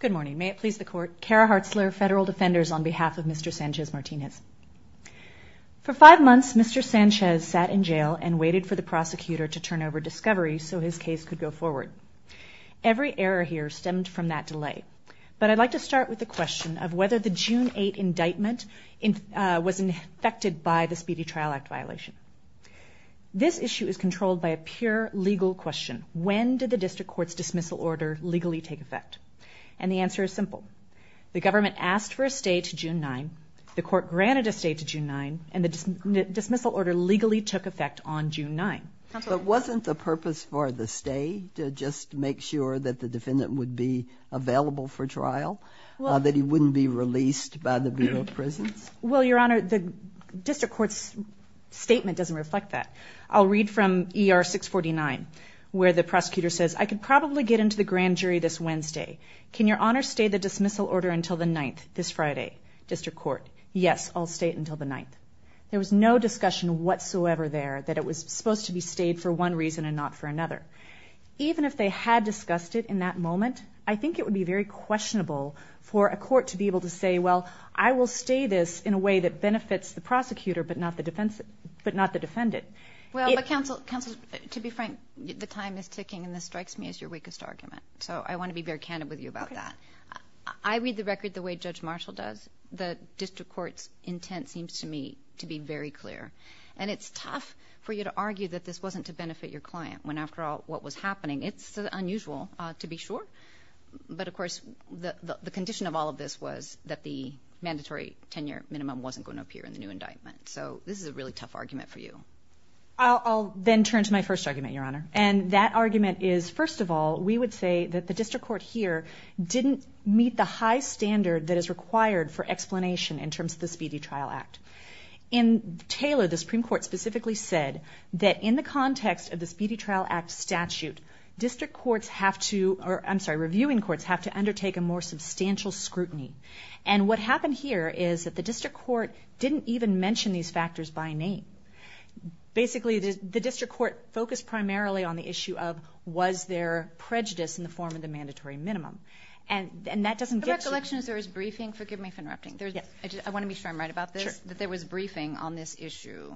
Good morning. May it please the Court. Kara Hartzler, Federal Defenders, on behalf of Mr. Sanchez-Martinez. For five months, Mr. Sanchez sat in jail and waited for the prosecutor to turn over discoveries so his case could go forward. Every error here stemmed from that delay. But I'd like to start with the question of whether the June 8 indictment was infected by the Speedy Trial Act violation. This issue is controlled by a pure legal question. When did the district court's dismissal order legally take effect? And the answer is simple. The government asked for a stay to June 9, the court granted a stay to June 9, and the dismissal order legally took effect on June 9. Counselor. But wasn't the purpose for the stay to just make sure that the defendant would be available for trial? That he wouldn't be released by the Bureau of Prisons? Well Your Honor, the district court's statement doesn't reflect that. I'll read from ER 649 where the prosecutor says, I could probably get into the grand jury this Wednesday. Can Your Honor stay the dismissal order until the 9th, this Friday? District court. Yes, I'll stay it until the 9th. There was no discussion whatsoever there that it was supposed to be stayed for one reason and not for another. Even if they had discussed it in that moment, I think it would be very questionable for a court to be able to say, well, I will stay this in a way that benefits the prosecutor but not the defendant. Well, but Counselor, to be frank, the time is ticking and this strikes me as your weakest argument. So I want to be very candid with you about that. I read the record the way Judge Marshall does. The district court's intent seems to me to be very clear. And it's tough for you to argue that this wasn't to benefit your client when after all what was happening, it's unusual to be sure. But of course, the condition of all of this was that the mandatory tenure minimum wasn't going to appear in the new indictment. So this is a really tough argument for you. I'll then turn to my first argument, Your Honor. And that argument is, first of all, we would say that the district court here didn't meet the high standard that is required for explanation in terms of the Speedy Trial Act. In Taylor, the Supreme Court specifically said that in the context of the Speedy Trial Act statute, district courts have to, or I'm sorry, reviewing courts have to undertake a more substantial scrutiny. And what happened here is that the district court didn't even mention these factors by name. Basically, the district court focused primarily on the issue of, was there prejudice in the form of the mandatory minimum? And that doesn't get to... The recollection is there was briefing, forgive me for interrupting. I want to be sure I'm right about this, that there was briefing on this issue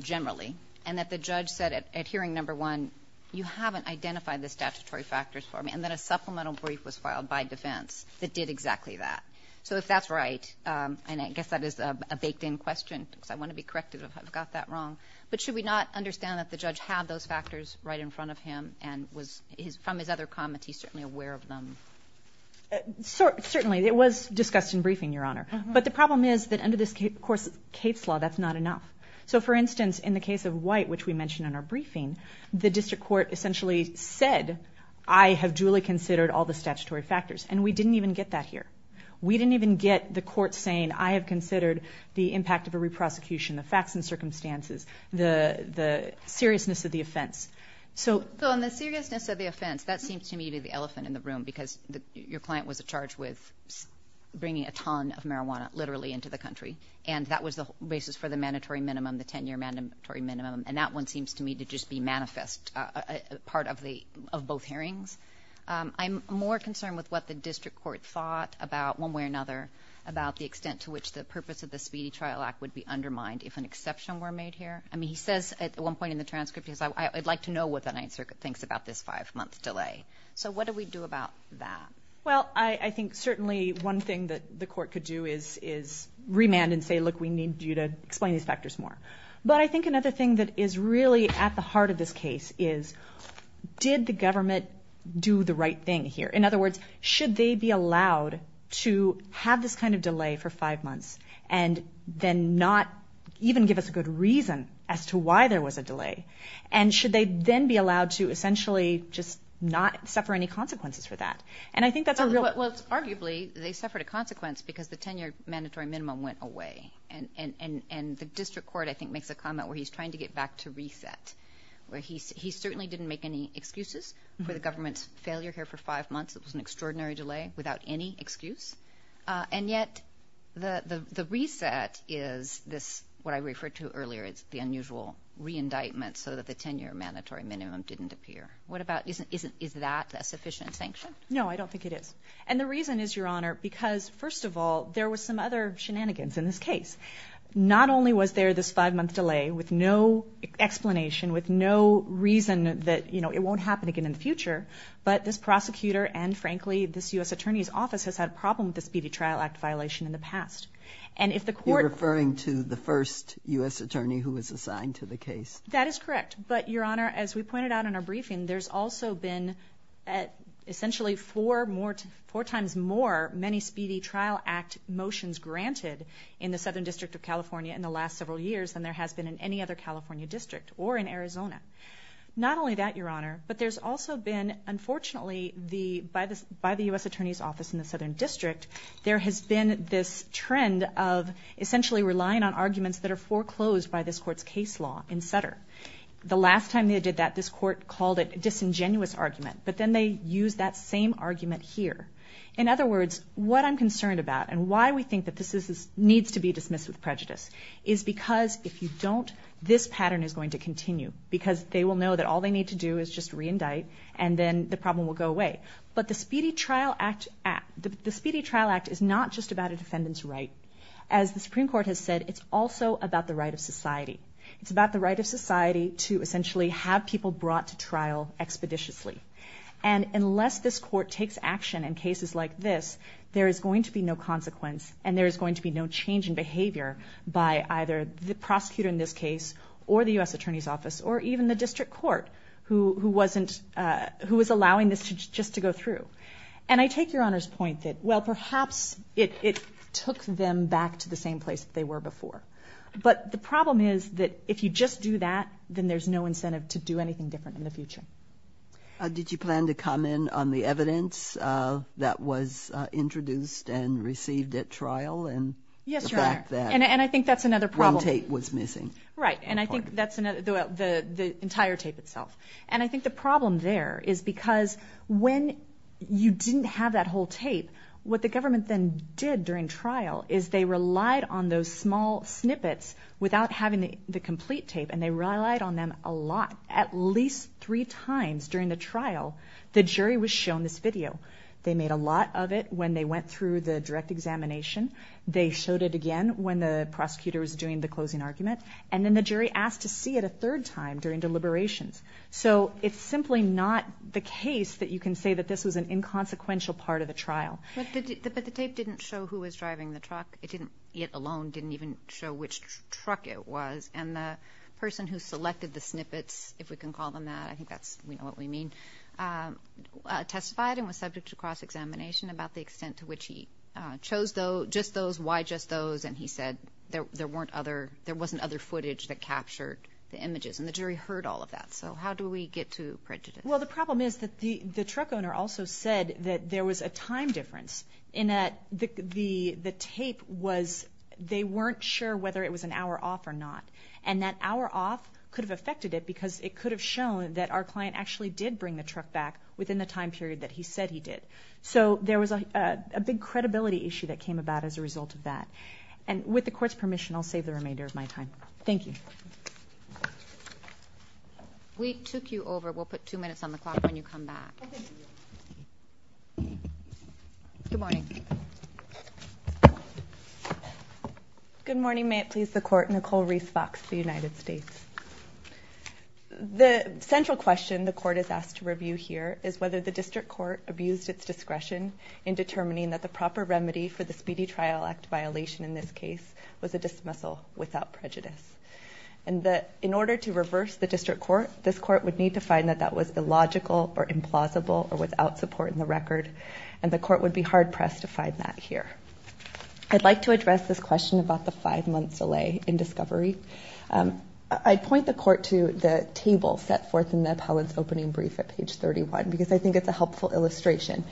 generally. And that the judge said at hearing number one, you haven't identified the statutory factors for me. And then a supplemental brief was filed by defense that did exactly that. So if that's right, and I guess that is a baked in question, because I want to be correct if I've got that wrong. But should we not understand that the judge had those factors right in front of him and was, from his other comments, he's certainly aware of them? Certainly. It was discussed in briefing, Your Honor. But the problem is that under this case, of course, Cape's Law, that's not enough. So for instance, in the case of White, which we mentioned in our briefing, the district court essentially said, I have duly considered all the statutory factors. And we didn't even get that here. We didn't even get the court saying, I have considered the impact of a re-prosecution, the facts and circumstances, the seriousness of the offense. So on the seriousness of the offense, that seems to me to be the elephant in the room, because your client was charged with bringing a ton of marijuana, literally, into the country. And that was the basis for the mandatory minimum, the 10-year mandatory minimum. And that one seems to me to just be manifest, part of both hearings. I'm more concerned with what the extent to which the purpose of the Speedy Trial Act would be undermined if an exception were made here. I mean, he says at one point in the transcript, he says, I'd like to know what the Ninth Circuit thinks about this five-month delay. So what do we do about that? Well, I think certainly one thing that the court could do is remand and say, look, we need you to explain these factors more. But I think another thing that is really at the heart of this case is, did the government do the right thing here? In other words, should they be allowed to have this kind of delay for five months, and then not even give us a good reason as to why there was a delay? And should they then be allowed to essentially just not suffer any consequences for that? And I think that's a real... Well, arguably, they suffered a consequence because the 10-year mandatory minimum went away. And the district court, I think, makes a comment where he's trying to get back to reset, where he certainly didn't make any excuses for the government's failure here for five months. It was an extraordinary delay without any excuse. And yet, the reset is this, what I referred to earlier, is the unusual re-indictment so that the 10-year mandatory minimum didn't appear. What about, is that a sufficient sanction? No, I don't think it is. And the reason is, Your Honor, because first of all, there was some other shenanigans in this case. Not only was there this five-month delay with no explanation, with no reason that it won't happen again in the future, but this prosecutor and, frankly, this U.S. Attorney's Office has had a problem with the Speedy Trial Act violation in the past. And if the court... You're referring to the first U.S. attorney who was assigned to the case? That is correct. But, Your Honor, as we pointed out in our briefing, there's also been essentially four times more many Speedy Trial Act motions granted in the Southern District of California in the last several years than there has been in any other California district or in Arizona. Not only that, Your Honor, but there's also been, unfortunately, by the U.S. Attorney's Office in the Southern District, there has been this trend of essentially relying on arguments that are foreclosed by this court's case law in Sutter. The last time they did that, this court called it a disingenuous argument, but then they used that same argument here. In other words, what I'm concerned about and why we think that this needs to be dismissed with prejudice is because if you don't, this pattern is going to continue because they will know that all they need to do is just re-indict and then the problem will go away. But the Speedy Trial Act is not just about a defendant's right. As the Supreme Court has said, it's also about the right of society. It's about the right of society to essentially have people brought to trial expeditiously. And unless this court takes action in cases like this, there is going to be no consequence and there is going to be no change in behavior by either the prosecutor in this case or the U.S. Attorney's Office or even the district court who was allowing this just to go through. And I take Your Honor's point that, well, perhaps it took them back to the same place that they were before. But the problem is that if you just do that, then there's no incentive to do anything different in the future. Did you plan to comment on the evidence that was introduced and received at trial and the fact that one tape was missing? Right. And I think that's the entire tape itself. And I think the problem there is because when you didn't have that whole tape, what the government then did during trial is they relied on those small snippets without having the complete tape and they relied on them a lot. At least three times during the trial, the jury was shown this video. They made a lot of it when they went through the direct examination. They showed it again when the prosecutor was doing the closing argument. And then the jury asked to see it a third time during deliberations. So it's simply not the case that you can say that this was an inconsequential part of the trial. But the tape didn't show who was driving the truck. It didn't, it alone didn't even show which truck it was. And the person who selected the snippets, if we can call them that, I think that's what we mean, testified and was subject to cross-examination about the extent to which he chose just those, why just those, and he said there wasn't other footage that captured the images. And the jury heard all of that. So how do we get to prejudice? Well, the problem is that the truck owner also said that there was a time difference in that the tape was, they weren't sure whether it was an hour off or not. And that hour off could have affected it because it could have shown that our client actually did bring the truck back within the time period that he said he did. So there was a big credibility issue that came about as a result of that. And with the court's permission, I'll save the remainder of my time. Thank you. We took you over. We'll put two minutes on the clock when you come back. Good morning. Good morning. May it please the court, Nicole Reese Fox, the United States. The central question the court is asked to review here is whether the district court abused its discretion in determining that the proper remedy for the Speedy Trial Act violation in this case was a dismissal without prejudice. And that in order to reverse the district court, this court would need to find that that was illogical or implausible or without support in the record. And the court would be hard pressed to find that here. I'd like to address this question about the five months delay in discovery. I'd point the court to the table set forth in the appellant's opening brief at page 31 because I think it's a helpful illustration.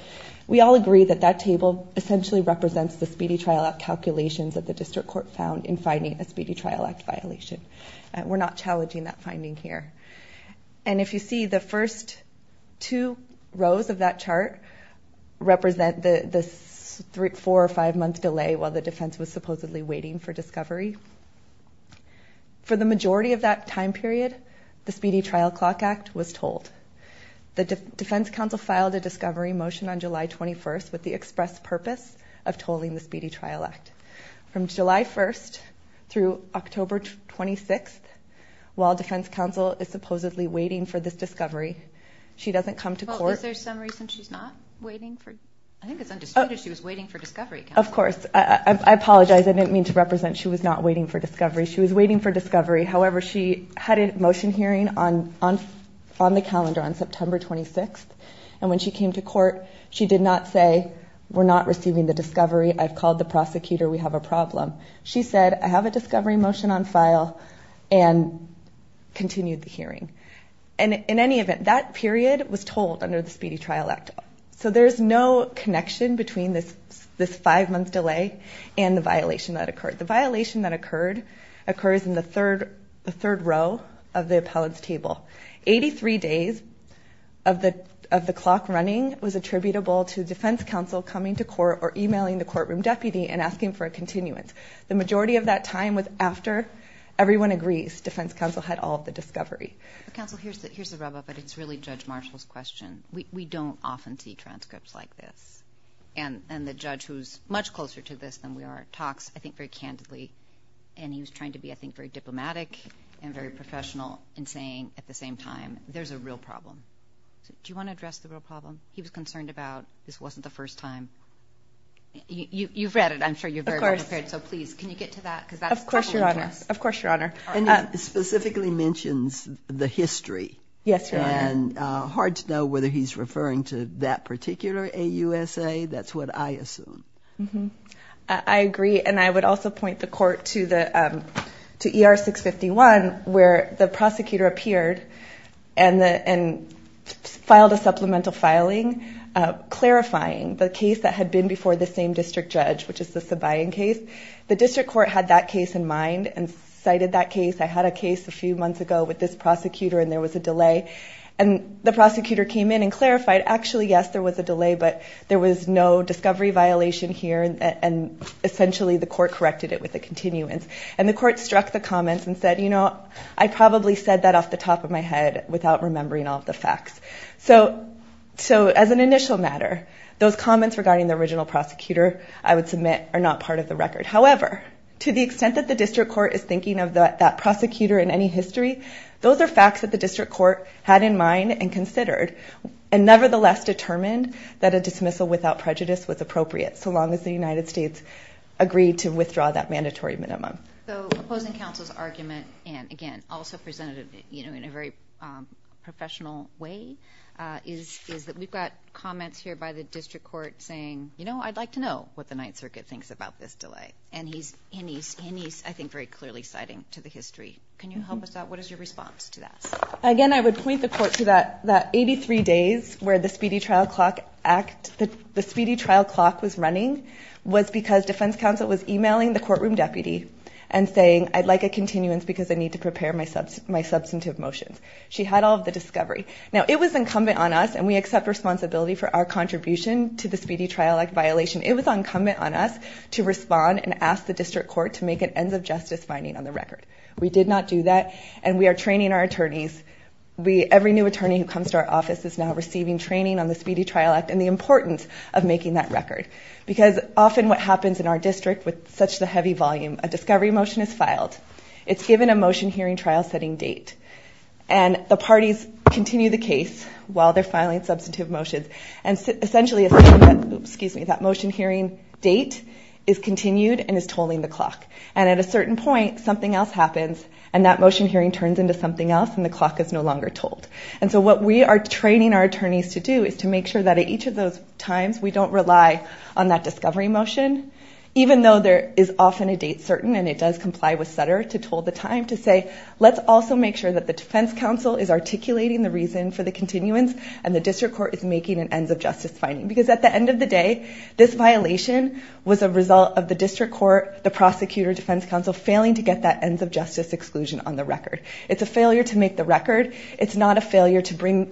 We all agree that that table essentially represents the Speedy Trial Act calculations that the court found in finding a Speedy Trial Act violation. We're not challenging that finding here. And if you see the first two rows of that chart represent the four or five month delay while the defense was supposedly waiting for discovery. For the majority of that time period, the Speedy Trial Clock Act was told. The defense counsel filed a discovery motion on July 21st with the express purpose of tolling the Speedy Trial Act. From July 1st through October 26th, while defense counsel is supposedly waiting for this discovery, she doesn't come to court. Is there some reason she's not waiting? I think it's undisputed she was waiting for discovery. Of course. I apologize. I didn't mean to represent she was not waiting for discovery. She was waiting for discovery. However, she had a motion hearing on the calendar on September 26th. And when she came to court, she did not say, we're not receiving the discovery. I've called the prosecutor. We have a problem. She said, I have a discovery motion on file and continued the hearing. And in any event, that period was told under the Speedy Trial Act. So there's no connection between this five month delay and the violation that occurred. The violation that occurred occurs in the third row of the appellant's table. Eighty-three days of the clock running was attributable to defense counsel coming to court or emailing the courtroom deputy and asking for a continuance. The majority of that time was after everyone agrees defense counsel had all of the discovery. Counsel, here's the rub up, but it's really Judge Marshall's question. We don't often see transcripts like this. And the judge who's much closer to this than we are talks, I think, very candidly. And he was trying to be, I think, very diplomatic and very professional in saying at the same time, there's a real problem. Do you want to address the real problem he was concerned about? This wasn't the first time. You've read it. I'm sure you're very prepared. So please, can you get to that? Of course, Your Honor. Of course, Your Honor. And specifically mentions the history. Yes, Your Honor. And hard to know whether he's to ER 651 where the prosecutor appeared and filed a supplemental filing clarifying the case that had been before the same district judge, which is the Sabayan case. The district court had that case in mind and cited that case. I had a case a few months ago with this prosecutor and there was a delay. And the prosecutor came in and clarified, actually, yes, there was a delay, but there was no discovery violation here. And essentially, the court corrected it with a continuance. And the court struck the comments and said, you know, I probably said that off the top of my head without remembering all of the facts. So as an initial matter, those comments regarding the original prosecutor I would submit are not part of the record. However, to the extent that the district court is thinking of that prosecutor in any history, those are facts that the district court had in mind and considered and nevertheless determined that a dismissal without prejudice was appropriate so long as the United States agreed to withdraw that mandatory minimum. So opposing counsel's argument, and again, also presented in a very professional way, is that we've got comments here by the district court saying, you know, I'd like to know what the Ninth Circuit thinks about this delay. And he's, I think, very clearly citing to the history. Can you help us out? What is your response to that? Again, I would point the court to that 83 days where the speedy trial clock was running was because defense counsel was emailing the courtroom deputy and saying, I'd like a continuance because I need to prepare my substantive motions. She had all of the discovery. Now it was incumbent on us, and we accept responsibility for our contribution to the Speedy Trial Act violation. It was incumbent on us to respond and ask the district court to make an ends of justice finding on the record. We did not do that. And we are training our attorneys. Every new attorney who comes to our office is now receiving training on the Speedy Trial Act and the importance of making that record. Because often what happens in our district with such the heavy volume, a discovery motion is filed. It's given a motion hearing trial setting date. And the parties continue the case while they're filing substantive motions. And essentially a motion hearing date is continued and is tolling the clock. And at a certain point, something else happens, and that motion hearing turns into something else, and the clock is no longer tolled. And so what we are training our attorneys to do is to make sure that at each of those times we don't rely on that discovery motion, even though there is often a date certain and it does comply with Sutter to toll the time, to say, let's also make sure that the defense counsel is articulating the reason for the continuance and the district court is making an ends of justice finding. Because at the end of the day, this violation was a result of the district court, the prosecutor, defense counsel, failing to get that ends of justice exclusion on the record. It's a failure to make the record. It's not a failure to bring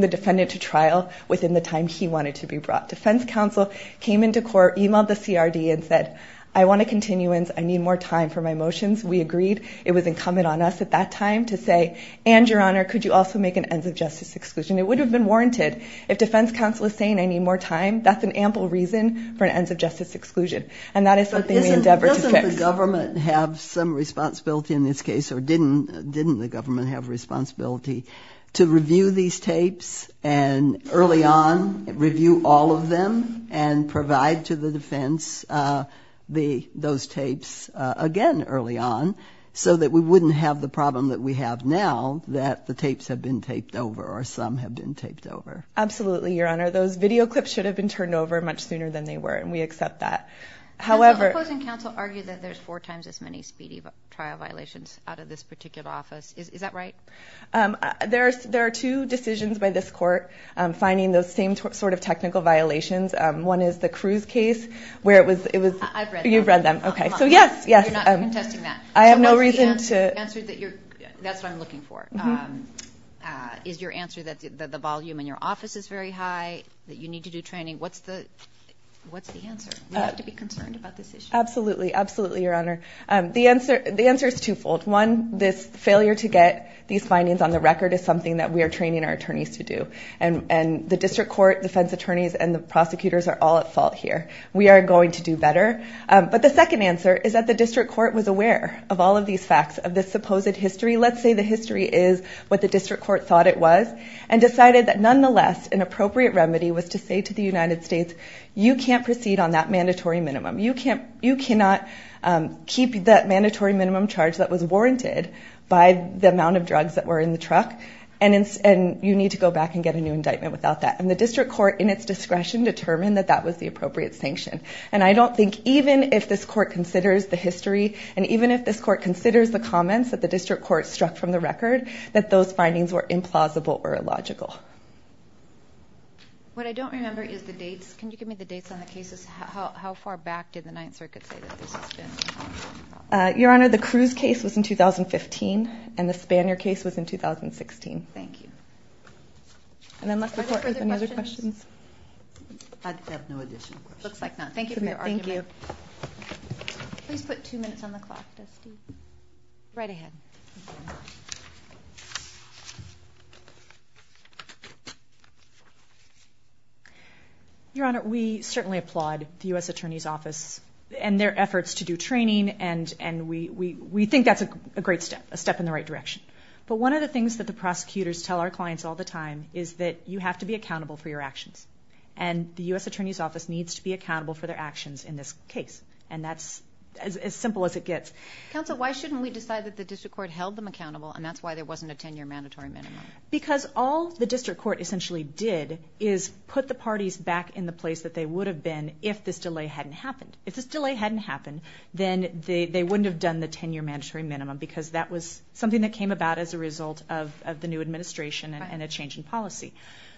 the defendant to trial within the time he wanted to be brought. Defense counsel came into court, emailed the CRD and said, I want a continuance. I need more time for my motions. We agreed. It was incumbent on us at that time to say, and your honor, could you also make an ends of justice exclusion? It would have been warranted. If defense counsel is saying I need more time, that's an ample reason for an ends of justice exclusion. And that is something we endeavor to fix. But doesn't the government have some responsibility in this case, or didn't the government have a responsibility to review these tapes and early on review all of them and provide to the defense, uh, the, those tapes, uh, again, early on so that we wouldn't have the problem that we have now that the tapes have been taped over or some have been taped over. Absolutely. Your honor, those video clips should have been turned over much sooner than they were. And we accept that. However, The opposing counsel argued that there's four times as many speedy trial violations out of this particular office. Is that right? There's, there are two decisions by this court finding those same sort of technical violations. One is the cruise case where it was, it was, you've read them. Okay. So yes, yes. I have no reason to answer that. That's what I'm looking for. Is your answer that the volume in your office is very high that you need to do training? What's the, what's the answer? You have to be concerned about this issue. Absolutely. Absolutely. Your honor. Um, the answer, the answer is twofold. One, this failure to get these findings on the record is something that we are training our attorneys to do. And, and the district court defense attorneys and the prosecutors are all at fault here. We are going to do better. Um, but the second answer is that the district court was aware of all of these facts of this supposed history. Let's say the history is what the district court thought it was and decided that nonetheless an appropriate remedy was to say to the United You can't, you cannot, um, keep that mandatory minimum charge that was warranted by the amount of drugs that were in the truck and it's, and you need to go back and get a new indictment without that. And the district court in its discretion determined that that was the appropriate sanction. And I don't think even if this court considers the history and even if this court considers the comments that the district court struck from the record, that those findings were implausible or illogical. What I don't remember is the dates. Can you give me the back? Did the ninth circuit say that this has been, uh, your honor, the cruise case was in 2015 and the Spanier case was in 2016. Thank you. And unless the court has any other questions, I have no additional questions. It looks like not. Thank you for your argument. Please put two minutes on the clock. Right ahead. Your honor, we certainly applaud the U. S. Attorney's office and their efforts to do training and, and we, we, we think that's a great step, a step in the right direction. But one of the things that the prosecutors tell our clients all the time is that you have to be accountable for your actions and the U. S. Attorney's office needs to be accountable for their actions in this case. And that's as simple as it gets. Counsel, why shouldn't we decide that the district court held them accountable and that's why there wasn't a 10 year mandatory minimum? Because all the district court essentially did is put the parties back in the place that they would have been if this delay hadn't happened. If this delay hadn't happened, then they, they wouldn't have done the 10 year mandatory minimum because that was something that came about as a result of, of the new administration and a change in policy.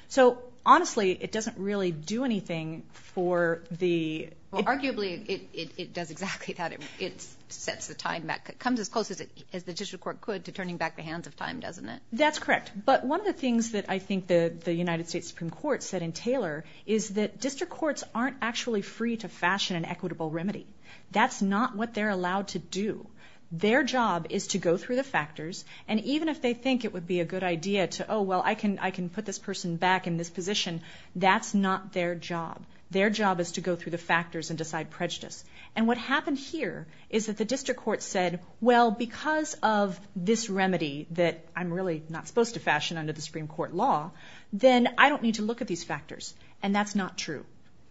So honestly, it doesn't really do anything for the, arguably it does exactly that. It sets the time back. It comes as close as it, as the district court could to turning back the hands of time, doesn't it? That's correct. But one of the things that I think the, the United States Supreme Court said in Taylor is that district courts aren't actually free to fashion an equitable remedy. That's not what they're allowed to do. Their job is to go through the factors and even if they think it would be a good idea to, oh, well, I can, I can put this person back in this position. That's not their job. Their job is to go through the factors and decide on prejudice. And what happened here is that the district court said, well, because of this remedy that I'm really not supposed to fashion under the Supreme Court law, then I don't need to look at these factors. And that's not true.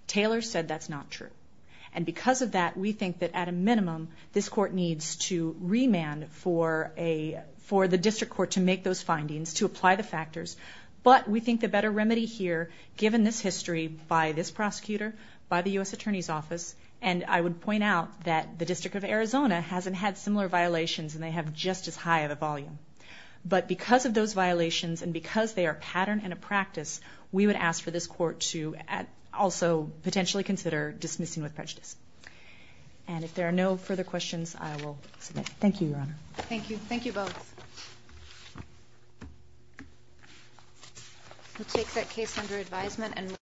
Taylor said that's not true. And because of that, we think that at a minimum, this court needs to remand for a, for the district court to make those findings, to apply the factors. But we think the better remedy here, given this history by this prosecutor, by the U.S. Attorney's Office, and I would point out that the District of Arizona hasn't had similar violations and they have just as high of a volume. But because of those violations and because they are pattern and a practice, we would ask for this court to also potentially consider dismissing with prejudice. And if there are no further questions, I will submit. Thank you, Your Honor. Thank you. Thank you both. We'll take that case under advisement and